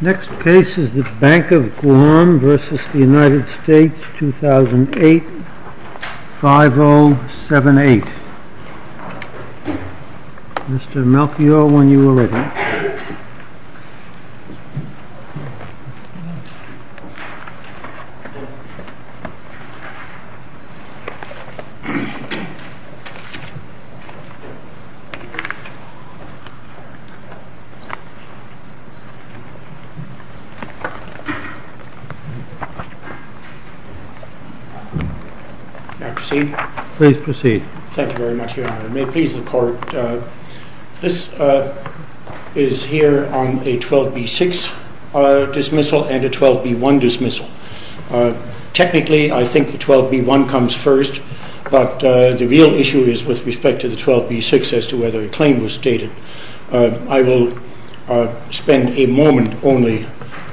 Next case is the Bank of Guam v. United States, 2008, 5078. Mr. Melchior, when you are ready. Thank you very much, Your Honor. May it please the Court, this is here on a 12B6 dismissal and a 12B1 dismissal. Technically I think the 12B1 comes first, but the real issue is with respect to the 12B6 as to whether a claim was stated. I will spend a moment only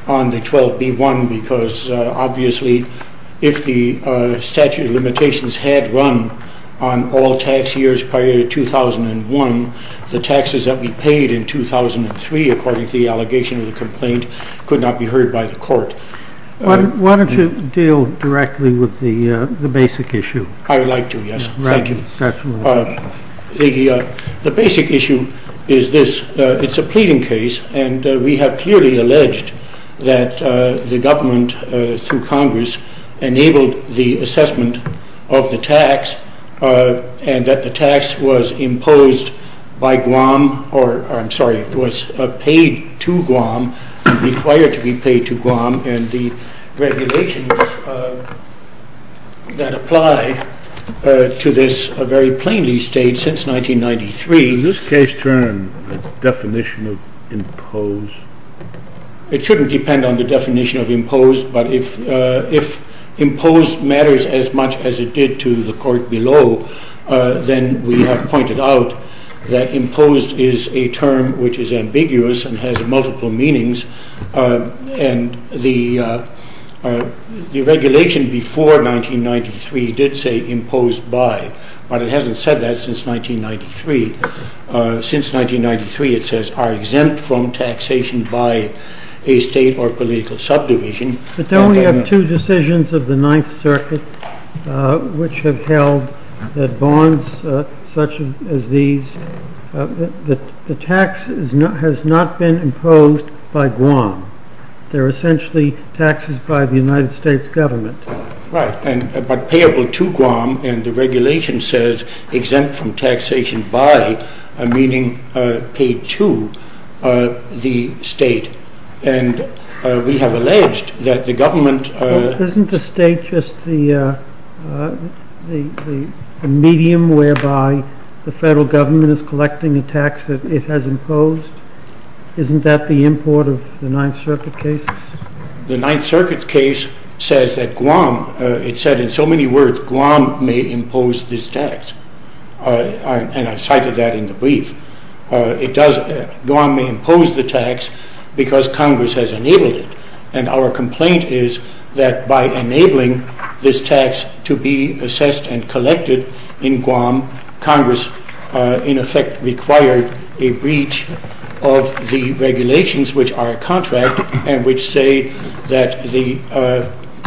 on the 12B1 because obviously if the statute of limitations had run on all tax years prior to 2001, the taxes that we paid in 2003, according to the allegation of the complaint, could not be heard by the Court. Why don't you deal directly with the basic issue? I would like to, yes. Thank you. The basic issue is this. It is a pleading case and we have clearly alleged that the government through Congress enabled the assessment of the tax and that the tax was paid to Guam, required to be paid to Guam, and the regulations that apply to this are very plainly stated since 1993. Is this case termed the definition of imposed? It shouldn't depend on the definition of imposed, but if imposed matters as much as it did to the Court below, then we have pointed out that imposed is a term which is ambiguous and has multiple meanings, and the regulation before 1993 did say imposed by, but it hasn't said that since 1993. Since 1993 it says are exempt from taxation by a state or political subdivision. But then we have two decisions of the Ninth Circuit which have held that bonds such as these, the tax has not been imposed by Guam. They are essentially taxes by the United States government. Right, but payable to Guam and the regulation says exempt from taxation by, meaning paid to, the state. And we have alleged that the government... Isn't the state just the medium whereby the federal government is collecting the tax that it has imposed? Isn't that the import of the Ninth Circuit case? The Ninth Circuit case says that Guam, it said in so many words, Guam may impose this tax. And I cited that in the brief. It does, Guam may impose the tax because Congress has enabled it. And our complaint is that by enabling this tax to be assessed and collected in Guam, Congress in effect required a breach of the regulations which are a contract and which say that the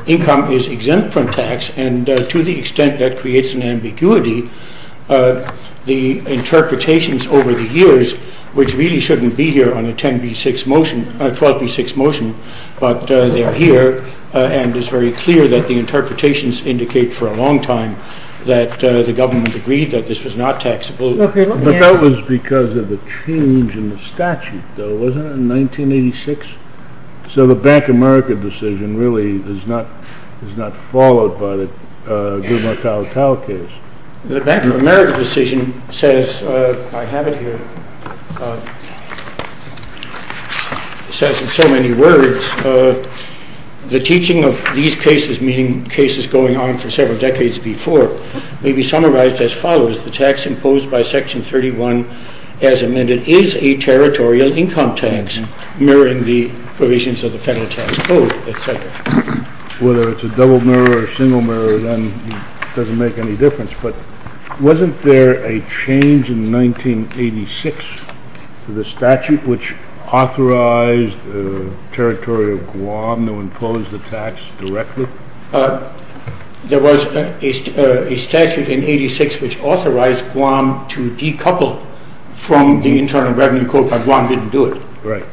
income is exempt from tax and to the extent that creates an ambiguity, the interpretations over the years, which really shouldn't be here on a 10B6 motion, 12B6 motion, but they are here and it's very clear that the interpretations indicate for a long time that the government agreed that this was not taxable. But that was because of the change in the statute though, wasn't it, in 1986? So the Bank of America decision really is not followed by the Guam-O-Tal-Tal case. The Bank of America decision says, I have it here, says in so many words, the teaching of these cases, meaning cases going on for several decades before, may be summarized as follows. The tax imposed by Section 31 as amended is a territorial income tax, mirroring the provisions of the Federal Tax Code, et cetera. Whether it's a double mirror or a single mirror, it doesn't make any difference, but wasn't there a change in 1986 to the statute which authorized the territory of Guam to impose the tax directly? There was a statute in 1986 which authorized Guam to decouple from the Internal Revenue Code, but Guam didn't do it. Right.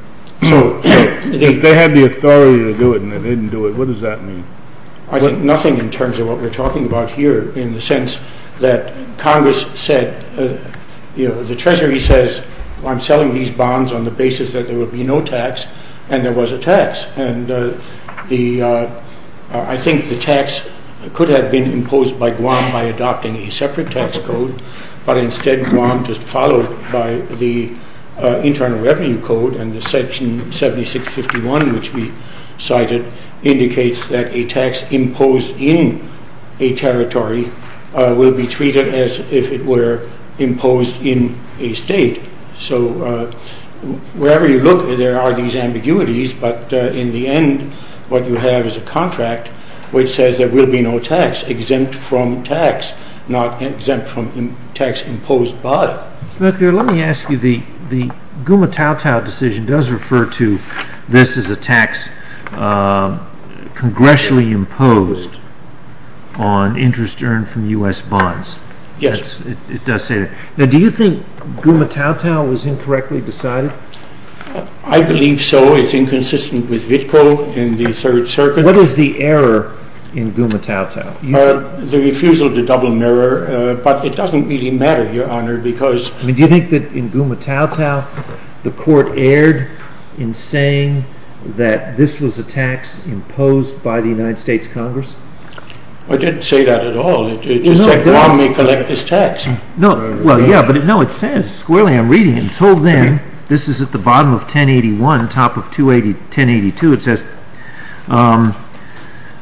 They had the authority to do it, and they didn't do it. What does that mean? I think nothing in terms of what we're talking about here, in the sense that Congress said, the Treasury says, I'm selling these bonds on the basis that there will be no tax, and there was a tax. And I think the tax could have been imposed by Guam by adopting a separate tax code, but instead Guam just followed by the Internal Revenue Code, and the Section 7651, which we cited, indicates that a tax imposed in a territory will be treated as if it were imposed in a state. So wherever you look, there are these ambiguities, but in the end what you have is a contract which says there will be no tax, exempt from tax, not exempt from tax imposed by it. Let me ask you, the Gumatautau decision does refer to this as a tax congressionally imposed on interest earned from U.S. bonds. Yes. It does say that. Now do you think Gumatautau was incorrectly decided? I believe so. It's inconsistent with VTCO and the Third Circuit. What is the error in Gumatautau? The refusal to double mirror, but it doesn't really matter, Your Honor, because Do you think that in Gumatautau the Court erred in saying that this was a tax imposed by the United States Congress? It didn't say that at all. It just said Guam may collect this tax. Well, yeah, but no, it says squarely, I'm reading it, until then, this is at the bottom of 1081, top of 1082, it says,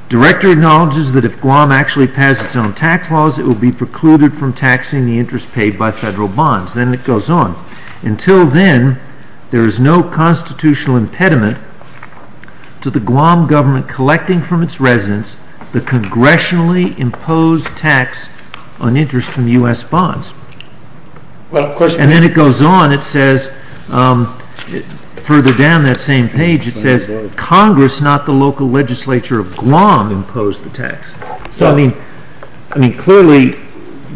Director acknowledges that if Guam actually passes its own tax laws, it will be precluded from taxing the interest paid by federal bonds. Then it goes on, until then, there is no constitutional impediment to the Guam government collecting from its residents the congressionally imposed tax on interest from U.S. bonds. And then it goes on, it says, further down that same page, it says, Congress, not the local legislature of Guam, imposed the tax. So, I mean, clearly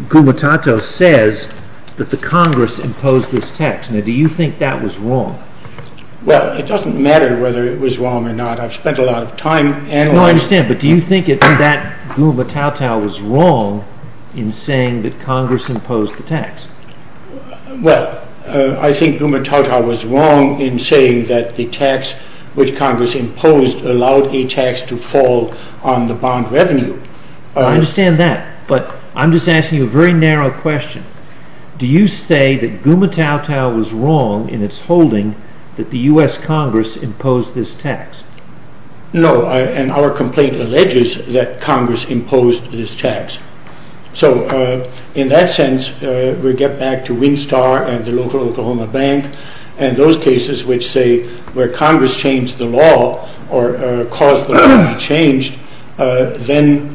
Gumatautau says that the Congress imposed this tax. Now, do you think that was wrong? Well, it doesn't matter whether it was wrong or not. I've spent a lot of time analyzing... No, I understand, but do you think that Gumatautau was wrong in saying that Congress imposed the tax? which Congress imposed allowed a tax to fall on the bond revenue? I understand that, but I'm just asking you a very narrow question. Do you say that Gumatautau was wrong in its holding that the U.S. Congress imposed this tax? No, and our complaint alleges that Congress imposed this tax. So, in that sense, we get back to Winstar and the local Oklahoma Bank and those cases which say where Congress changed the law or caused the law to be changed, then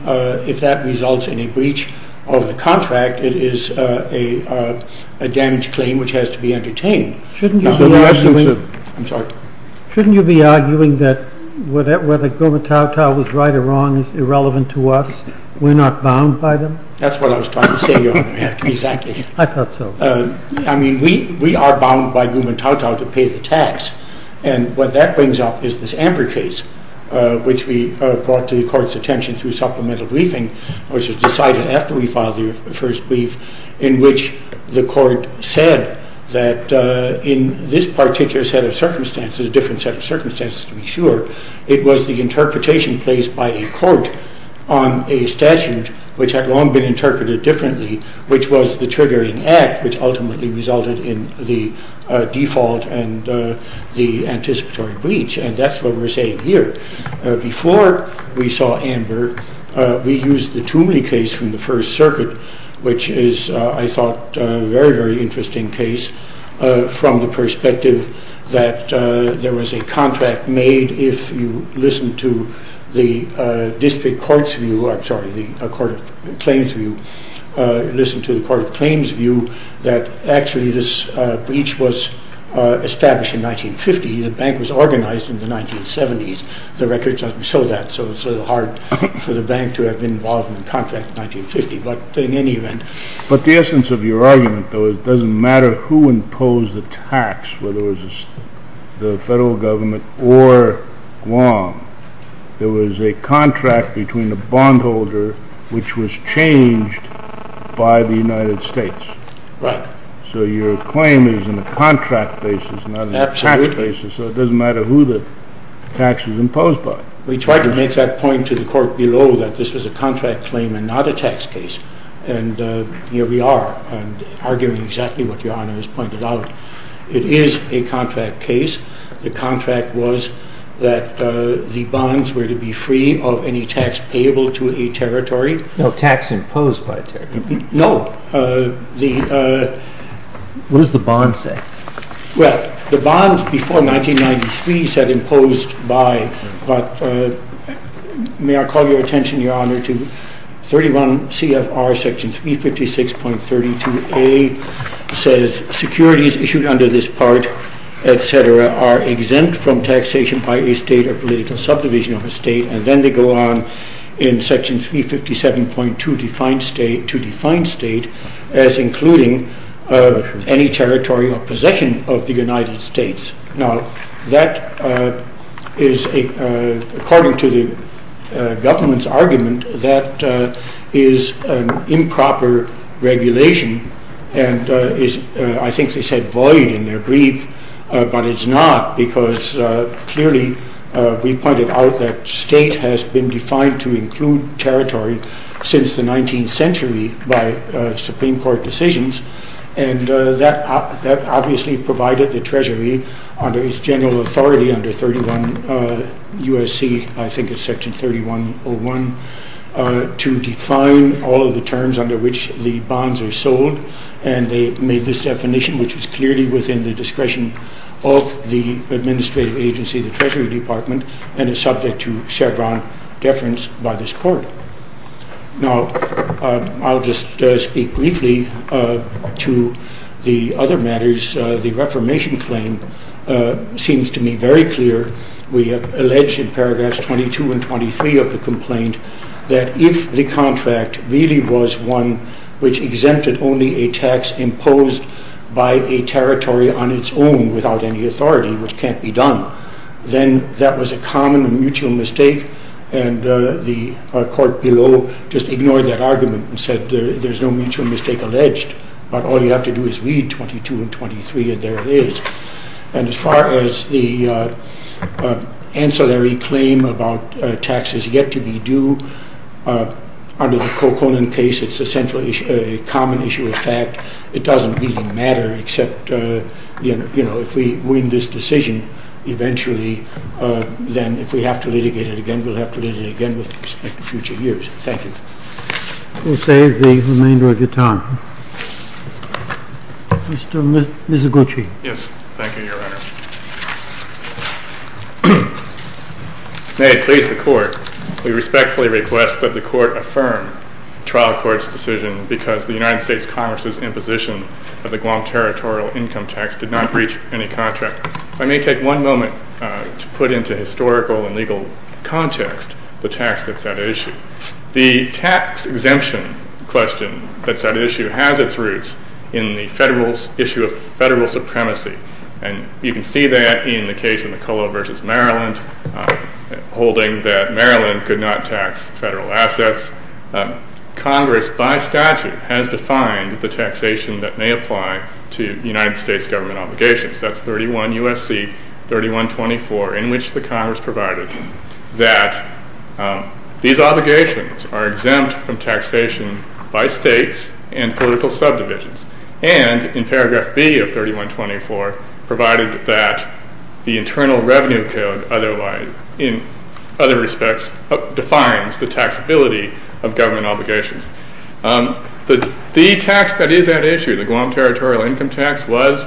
if that results in a breach of the contract, it is a damaged claim which has to be entertained. Shouldn't you be arguing that whether Gumatautau was right or wrong is irrelevant to us, we're not bound by them? That's what I was trying to say, Your Honor, exactly. I thought so. I mean, we are bound by Gumatautau to pay the tax. And what that brings up is this Amber case which we brought to the Court's attention through supplemental briefing which was decided after we filed the first brief in which the Court said that in this particular set of circumstances, a different set of circumstances to be sure, it was the interpretation placed by a court on a statute which had long been interpreted differently, which was the triggering act which ultimately resulted in the default and the anticipatory breach. And that's what we're saying here. Before we saw Amber, we used the Toomley case from the First Circuit which is, I thought, a very, very interesting case from the perspective that there was a contract made if you listen to the District Court's view, I'm sorry, the Court of Claims' view, listen to the Court of Claims' view that actually this breach was established in 1950. The bank was organized in the 1970s. The record doesn't show that, so it's sort of hard for the bank to have been involved in the contract in 1950. But in any event... But the essence of your argument, though, is it doesn't matter who imposed the tax, whether it was the federal government or Guam. There was a contract between the bondholder which was changed by the United States. Right. So your claim is in a contract basis, not a tax basis. Absolutely. So it doesn't matter who the tax is imposed by. We tried to make that point to the court below that this was a contract claim and not a tax case. And here we are, arguing exactly what Your Honor has pointed out. It is a contract case. The contract was that the bonds were to be free of any tax payable to a territory. No tax imposed by a territory. No. What does the bond say? Well, the bonds before 1993 said imposed by, but may I call your attention, Your Honor, to 31 CFR section 356.32A says securities issued under this part, etc., are exempt from taxation by a state or political subdivision of a state. And then they go on in section 357.2 to define state as including any territory or possession of the United States. Now, that is, according to the government's argument, that is an improper regulation, and I think they said void in their brief, but it's not because clearly we pointed out that state has been defined to include territory since the 19th century by Supreme Court decisions, and that obviously provided the Treasury under its general authority under 31 U.S.C., I think it's section 3101, to define all of the terms under which the bonds are sold, and they made this definition, which is clearly within the discretion of the administrative agency, the Treasury Department, and is subject to Chevron deference by this Court. Now, I'll just speak briefly to the other matters. The Reformation claim seems to me very clear. We have alleged in paragraphs 22 and 23 of the complaint that if the contract really was one which exempted only a tax imposed by a territory on its own without any authority, which can't be done, then that was a common mutual mistake, and the Court below just ignored that argument and said there's no mutual mistake alleged, but all you have to do is read 22 and 23, and there it is. And as far as the ancillary claim about taxes yet to be due, under the Coconin case, it's a common issue of fact. It doesn't really matter, except if we win this decision eventually, then if we have to litigate it again, we'll have to litigate it again with respect to future years. Thank you. We'll save the remainder of your time. Mr. Mizoguchi. Yes. Thank you, Your Honor. May it please the Court, we respectfully request that the Court affirm the trial court's decision because the United States Congress's imposition of the Guam territorial income tax did not breach any contract. If I may take one moment to put into historical and legal context the tax that's at issue. The tax exemption question that's at issue has its roots in the issue of federal supremacy, and you can see that in the case of McCullough v. Maryland, holding that Maryland could not tax federal assets. Congress, by statute, has defined the taxation that may apply to United States government obligations. That's 31 U.S.C. 3124, in which the Congress provided that these obligations are exempt from taxation by states and political subdivisions, and in paragraph B of 3124, provided that the Internal Revenue Code, in other respects, defines the taxability of government obligations. The tax that is at issue, the Guam territorial income tax, was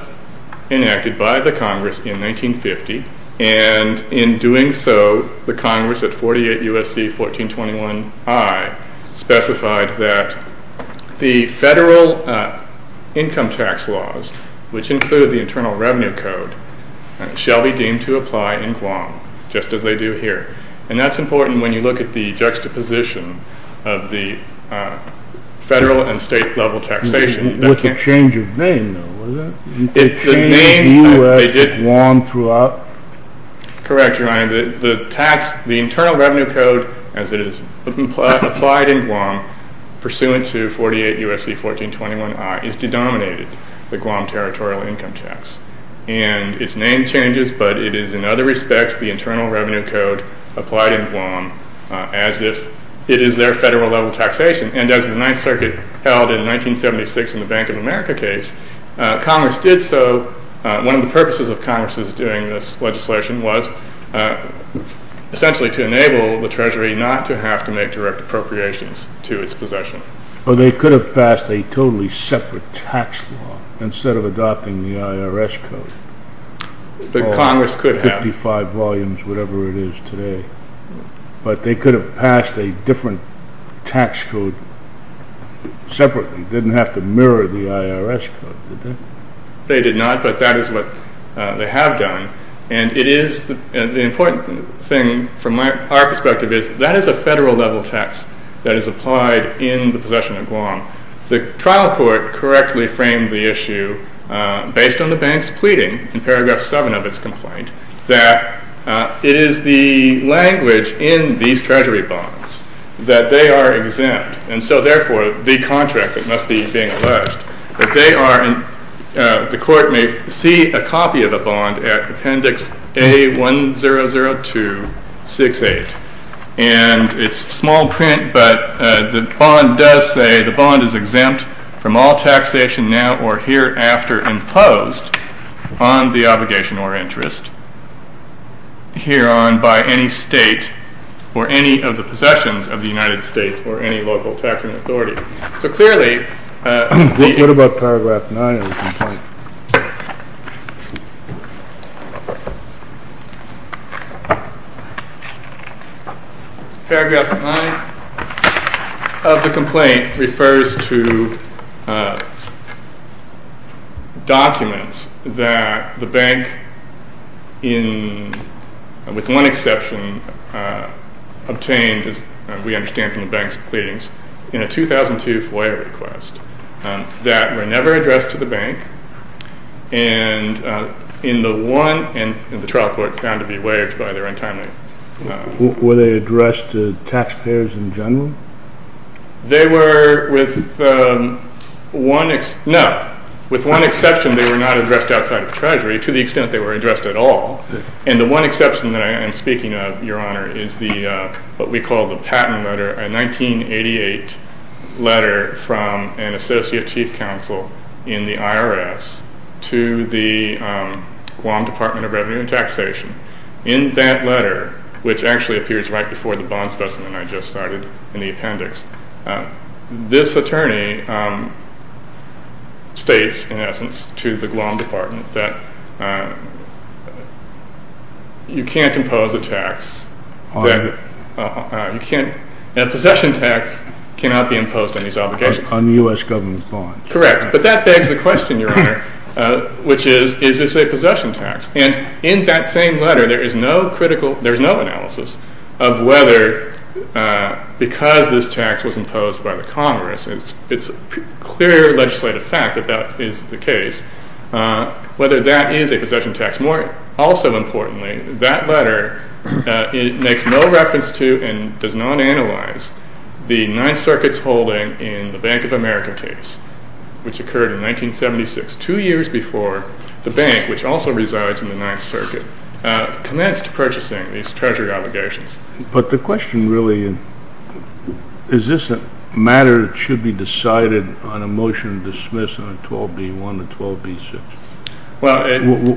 enacted by the Congress in 1950, and in doing so, the Congress at 48 U.S.C. 1421I specified that the federal income tax laws, which include the Internal Revenue Code, shall be deemed to apply in Guam, just as they do here. And that's important when you look at the juxtaposition of the federal and state-level taxation. What's the change of name, though? It changed to Guam throughout? Correct, Your Honor. The Internal Revenue Code, as it is applied in Guam, pursuant to 48 U.S.C. 1421I, is denominated the Guam territorial income tax. And its name changes, but it is, in other respects, the Internal Revenue Code applied in Guam, as if it is their federal-level taxation. And as the Ninth Circuit held in 1976 in the Bank of America case, Congress did so. One of the purposes of Congress's doing this legislation was essentially to enable the Treasury not to have to make direct appropriations to its possession. Well, they could have passed a totally separate tax law instead of adopting the IRS code. The Congress could have. Or 55 volumes, whatever it is today. But they could have passed a different tax code separately, didn't have to mirror the IRS code, did they? They did not, but that is what they have done. And the important thing, from our perspective, is that is a federal-level tax that is applied in the possession of Guam. The trial court correctly framed the issue, based on the bank's pleading in paragraph 7 of its complaint, that it is the language in these Treasury bonds that they are exempt. And so, therefore, the contract that must be being alleged, that the court may see a copy of the bond at Appendix A100268. And it's small print, but the bond does say the bond is exempt from all taxation now or hereafter imposed on the obligation or interest hereon by any state or any of the possessions of the United States or any local taxing authority. So clearly... What about paragraph 9 of the complaint? Paragraph 9 of the complaint refers to documents that the bank, with one exception, obtained, as we understand from the bank's pleadings, in a 2002 FOIA request that were never addressed to the bank and the trial court found to be waived by their entitlement. Were they addressed to taxpayers in general? They were with one... No, with one exception, they were not addressed outside of Treasury to the extent they were addressed at all. And the one exception that I am speaking of, Your Honor, is what we call the patent letter, a 1988 letter from an associate chief counsel in the IRS to the Guam Department of Revenue and Taxation. In that letter, which actually appears right before the bond specimen I just cited in the appendix, this attorney states, in essence, to the Guam Department that you can't impose a tax... Possession tax cannot be imposed on these obligations. On U.S. government bonds. Correct, but that begs the question, Your Honor, which is, is this a possession tax? And in that same letter, there is no critical... Whether, because this tax was imposed by the Congress, it's a clear legislative fact that that is the case, whether that is a possession tax, more also importantly, that letter makes no reference to and does not analyze the Ninth Circuit's holding in the Bank of America case, which occurred in 1976, two years before the bank, which also resides in the Ninth Circuit, commenced purchasing these Treasury obligations. But the question really is, is this a matter that should be decided on a motion to dismiss on 12b-1 and 12b-6?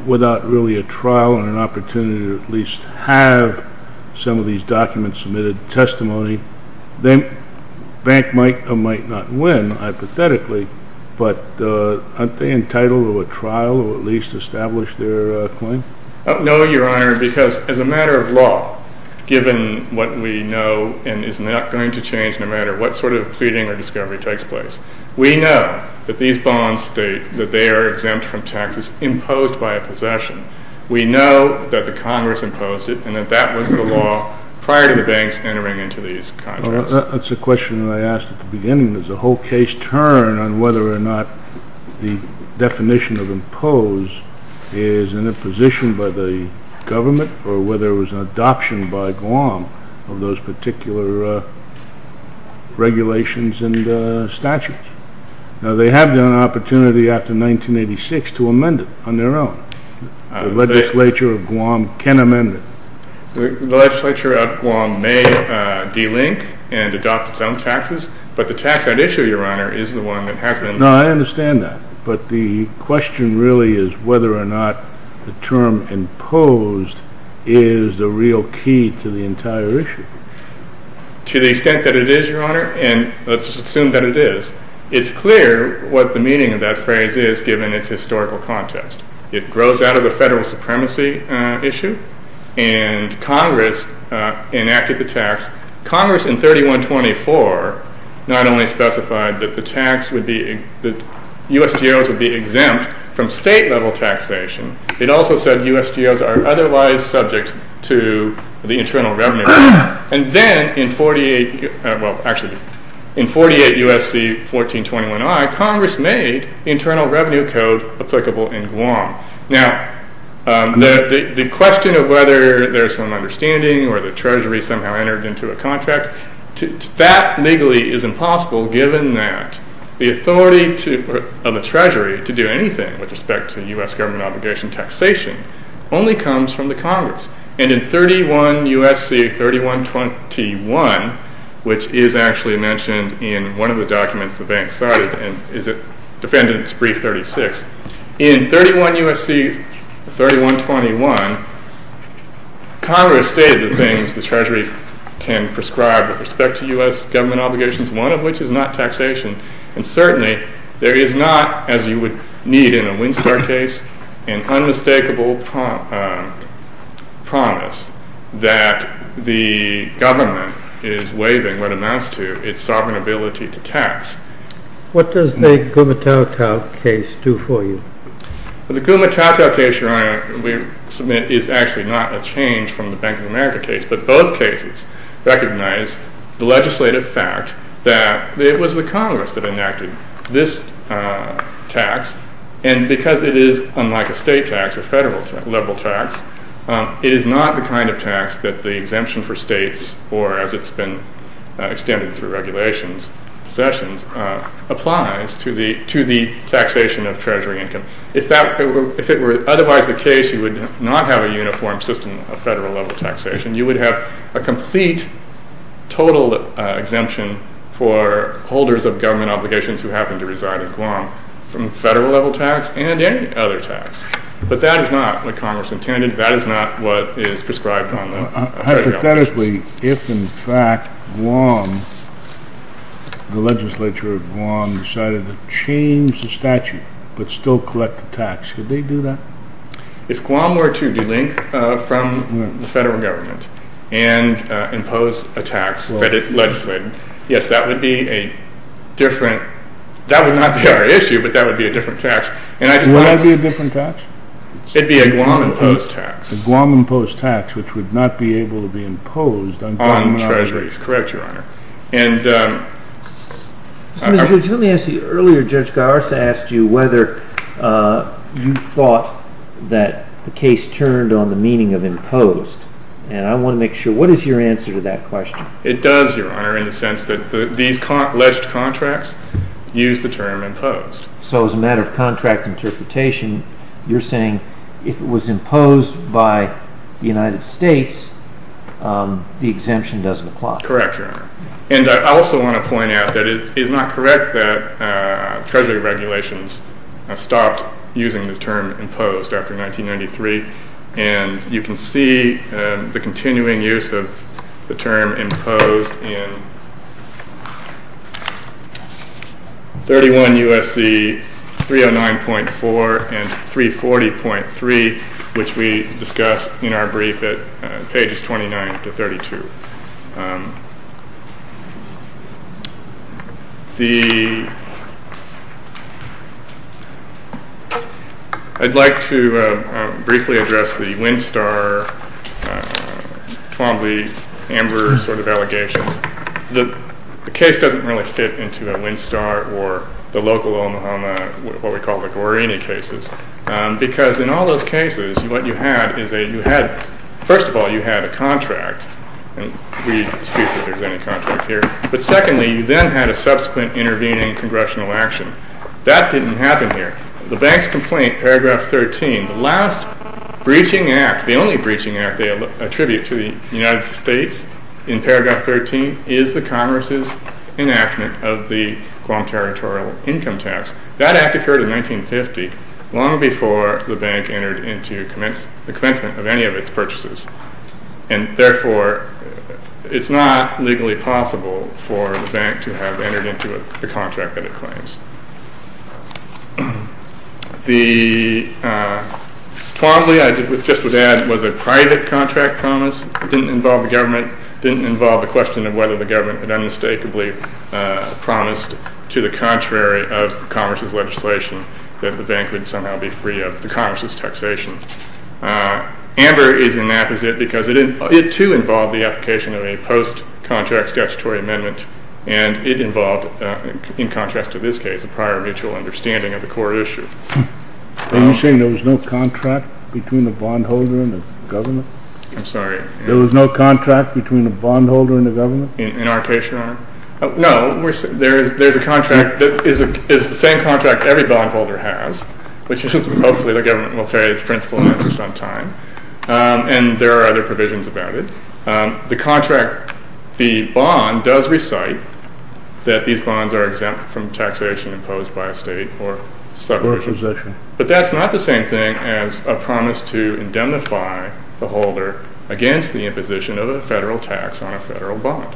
Without really a trial and an opportunity to at least have some of these documents submitted, testimony, then Bank might or might not win, hypothetically, but aren't they entitled to a trial or at least establish their claim? No, Your Honor, because as a matter of law, given what we know and is not going to change no matter what sort of pleading or discovery takes place, we know that these bonds, that they are exempt from taxes imposed by a possession. We know that the Congress imposed it and that that was the law prior to the banks entering into these contracts. That's a question that I asked at the beginning. Does the whole case turn on whether or not the definition of impose is an imposition by the government or whether it was an adoption by Guam of those particular regulations and statutes? Now, they have the opportunity after 1986 to amend it on their own. The legislature of Guam can amend it. The legislature of Guam may delink and adopt its own taxes, but the tax on issue, Your Honor, is the one that has been... No, I understand that, but the question really is whether or not the term imposed is the real key to the entire issue. To the extent that it is, Your Honor, and let's assume that it is, it's clear what the meaning of that phrase is given its historical context. It grows out of the federal supremacy issue and Congress enacted the tax. Congress in 3124 not only specified that the tax would be... from state level taxation, it also said USGOs are otherwise subject to the internal revenue. And then in 48... Well, actually, in 48 USC 1421I, Congress made internal revenue code applicable in Guam. Now, the question of whether there's some understanding or the Treasury somehow entered into a contract, that legally is impossible given that the authority of the Treasury to do anything with respect to US government obligation taxation only comes from the Congress. And in 31 USC 3121, which is actually mentioned in one of the documents the bank cited and is defended in its brief 36, in 31 USC 3121, Congress stated the things the Treasury can prescribe with respect to US government obligations, one of which is not taxation, and certainly there is not, as you would need in a Winstar case, an unmistakable promise that the government is waiving what amounts to its sovereign ability to tax. What does the Gumatautau case do for you? The Gumatautau case, Your Honor, is actually not a change from the Bank of America case, but both cases recognize the legislative fact that it was the Congress that enacted this tax, and because it is, unlike a state tax, a federal level tax, it is not the kind of tax that the exemption for states, or as it's been extended through regulations, sessions, applies to the taxation of Treasury income. If it were otherwise the case, you would not have a uniform system of federal level taxation. You would have a complete total exemption for holders of government obligations who happen to reside in Guam from federal level tax and any other tax. But that is not what Congress intended. That is not what is prescribed on the federal level tax. Hypothetically, if in fact Guam, the legislature of Guam, decided to change the statute but still collect the tax, could they do that? If Guam were to delink from the federal government and impose a tax that it legislated, yes, that would be a different, that would not be our issue, but that would be a different tax. Would that be a different tax? It would be a Guam-imposed tax. A Guam-imposed tax, which would not be able to be imposed on government obligations. On Treasuries, correct, Your Honor. Mr. Goode, let me ask you, earlier Judge Garza asked you whether you thought that the case turned on the meaning of imposed, and I want to make sure, what is your answer to that question? It does, Your Honor, in the sense that these alleged contracts use the term imposed. So as a matter of contract interpretation, you're saying if it was imposed by the United States, the exemption doesn't apply. Correct, Your Honor. And I also want to point out that it is not correct that Treasury regulations stopped using the term imposed after 1993, and you can see the continuing use of the term imposed in 31 U.S.C. 309.4 and 340.3, which we discuss in our brief at pages 29 to 32. I'd like to briefly address the Winstar, Columbia, Amber sort of allegations. The case doesn't really fit into a Winstar or the local Omaha, what we call the Guarini cases, because in all those cases what you had is a, you had, first of all, you had a contract, and we dispute that there's any contract here, but secondly, you then had a subsequent intervening congressional action. That didn't happen here. The bank's complaint, paragraph 13, the last breaching act, the only breaching act they attribute to the United States in paragraph 13, is the Congress's enactment of the Guam Territorial Income Tax. That act occurred in 1950, long before the bank entered into the commencement of any of its purchases, and therefore, it's not legally possible for the bank to have entered into the contract that it claims. The Twombly, I just would add, was a private contract promise. It didn't involve the government. It didn't involve the question of whether the government had unmistakably promised to the contrary of Congress's legislation that the bank would somehow be free of the Congress's taxation. Amber is an apposite, because it too involved the application of a post-contract statutory amendment, and it involved, in contrast to this case, a prior mutual understanding of the core issue. Are you saying there was no contract between the bondholder and the government? I'm sorry? There was no contract between the bondholder and the government? In our case, Your Honor? No. There's a contract that is the same contract every bondholder has, which is, hopefully, the government will pay its principal interest on time, and there are other provisions about it. The contract, the bond, does recite that these bonds are exempt from taxation imposed by a state or subpoena. But that's not the same thing as a promise to indemnify the holder against the imposition of a federal tax on a federal bond.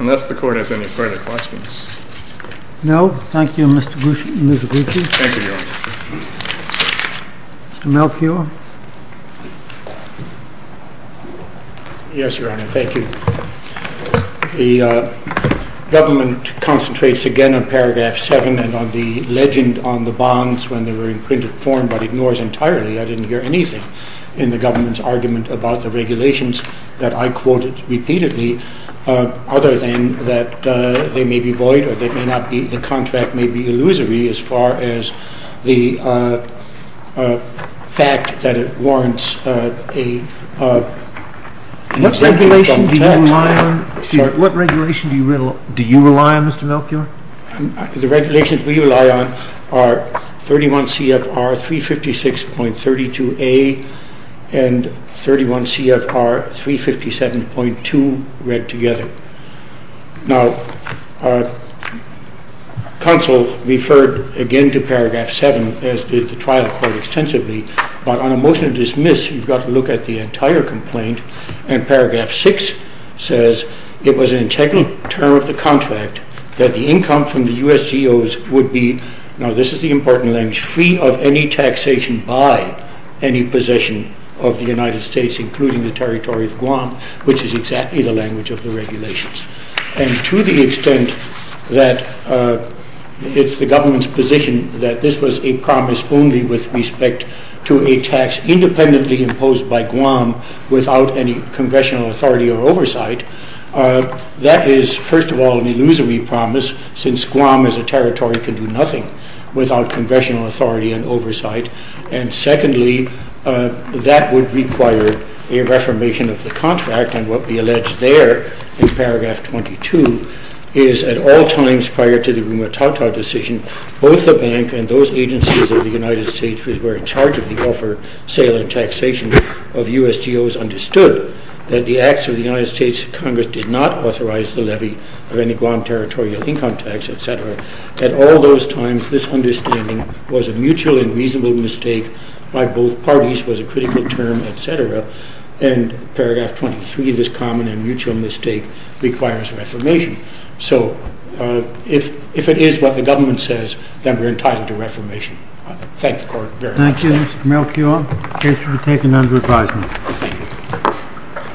Unless the Court has any further questions. No. Thank you, Mr. Gucci. Thank you, Your Honor. Mr. Melchior. Yes, Your Honor. Thank you. The government concentrates again on paragraph 7 and on the legend on the bonds when they were in printed form, but ignores entirely. I didn't hear anything in the government's argument about the regulations that I quoted repeatedly, other than that they may be void or they may not be and the contract may be illusory as far as the fact that it warrants an exemption from tax. What regulation do you rely on, Mr. Melchior? The regulations we rely on are 31 CFR read together. Now, I think that's a good argument to make that the contract may be illusory as far as the fact that it warrants an exemption I think that's a good to make that the may be illusory as far as that it may be illusory as far as the fact that it may be illusory as far as the fact that it may be illusory as far as the fact that it may as far as the fact may be illusory as far as may be illusory as far as his requisition as far as the fact that our discretion that the certain cases were for the of the U.S. G.O.'s understood that the acts of the U.S. Congress did not authorize the levy of any land income tax etc. At all those times this common mutual and reasonable mistake by both parties was a critical term etc. And paragraph 23 this common and mutual mistake requires reformation. So if it is what the government says then we're entitled to reformation. Thank you very much. Thank you.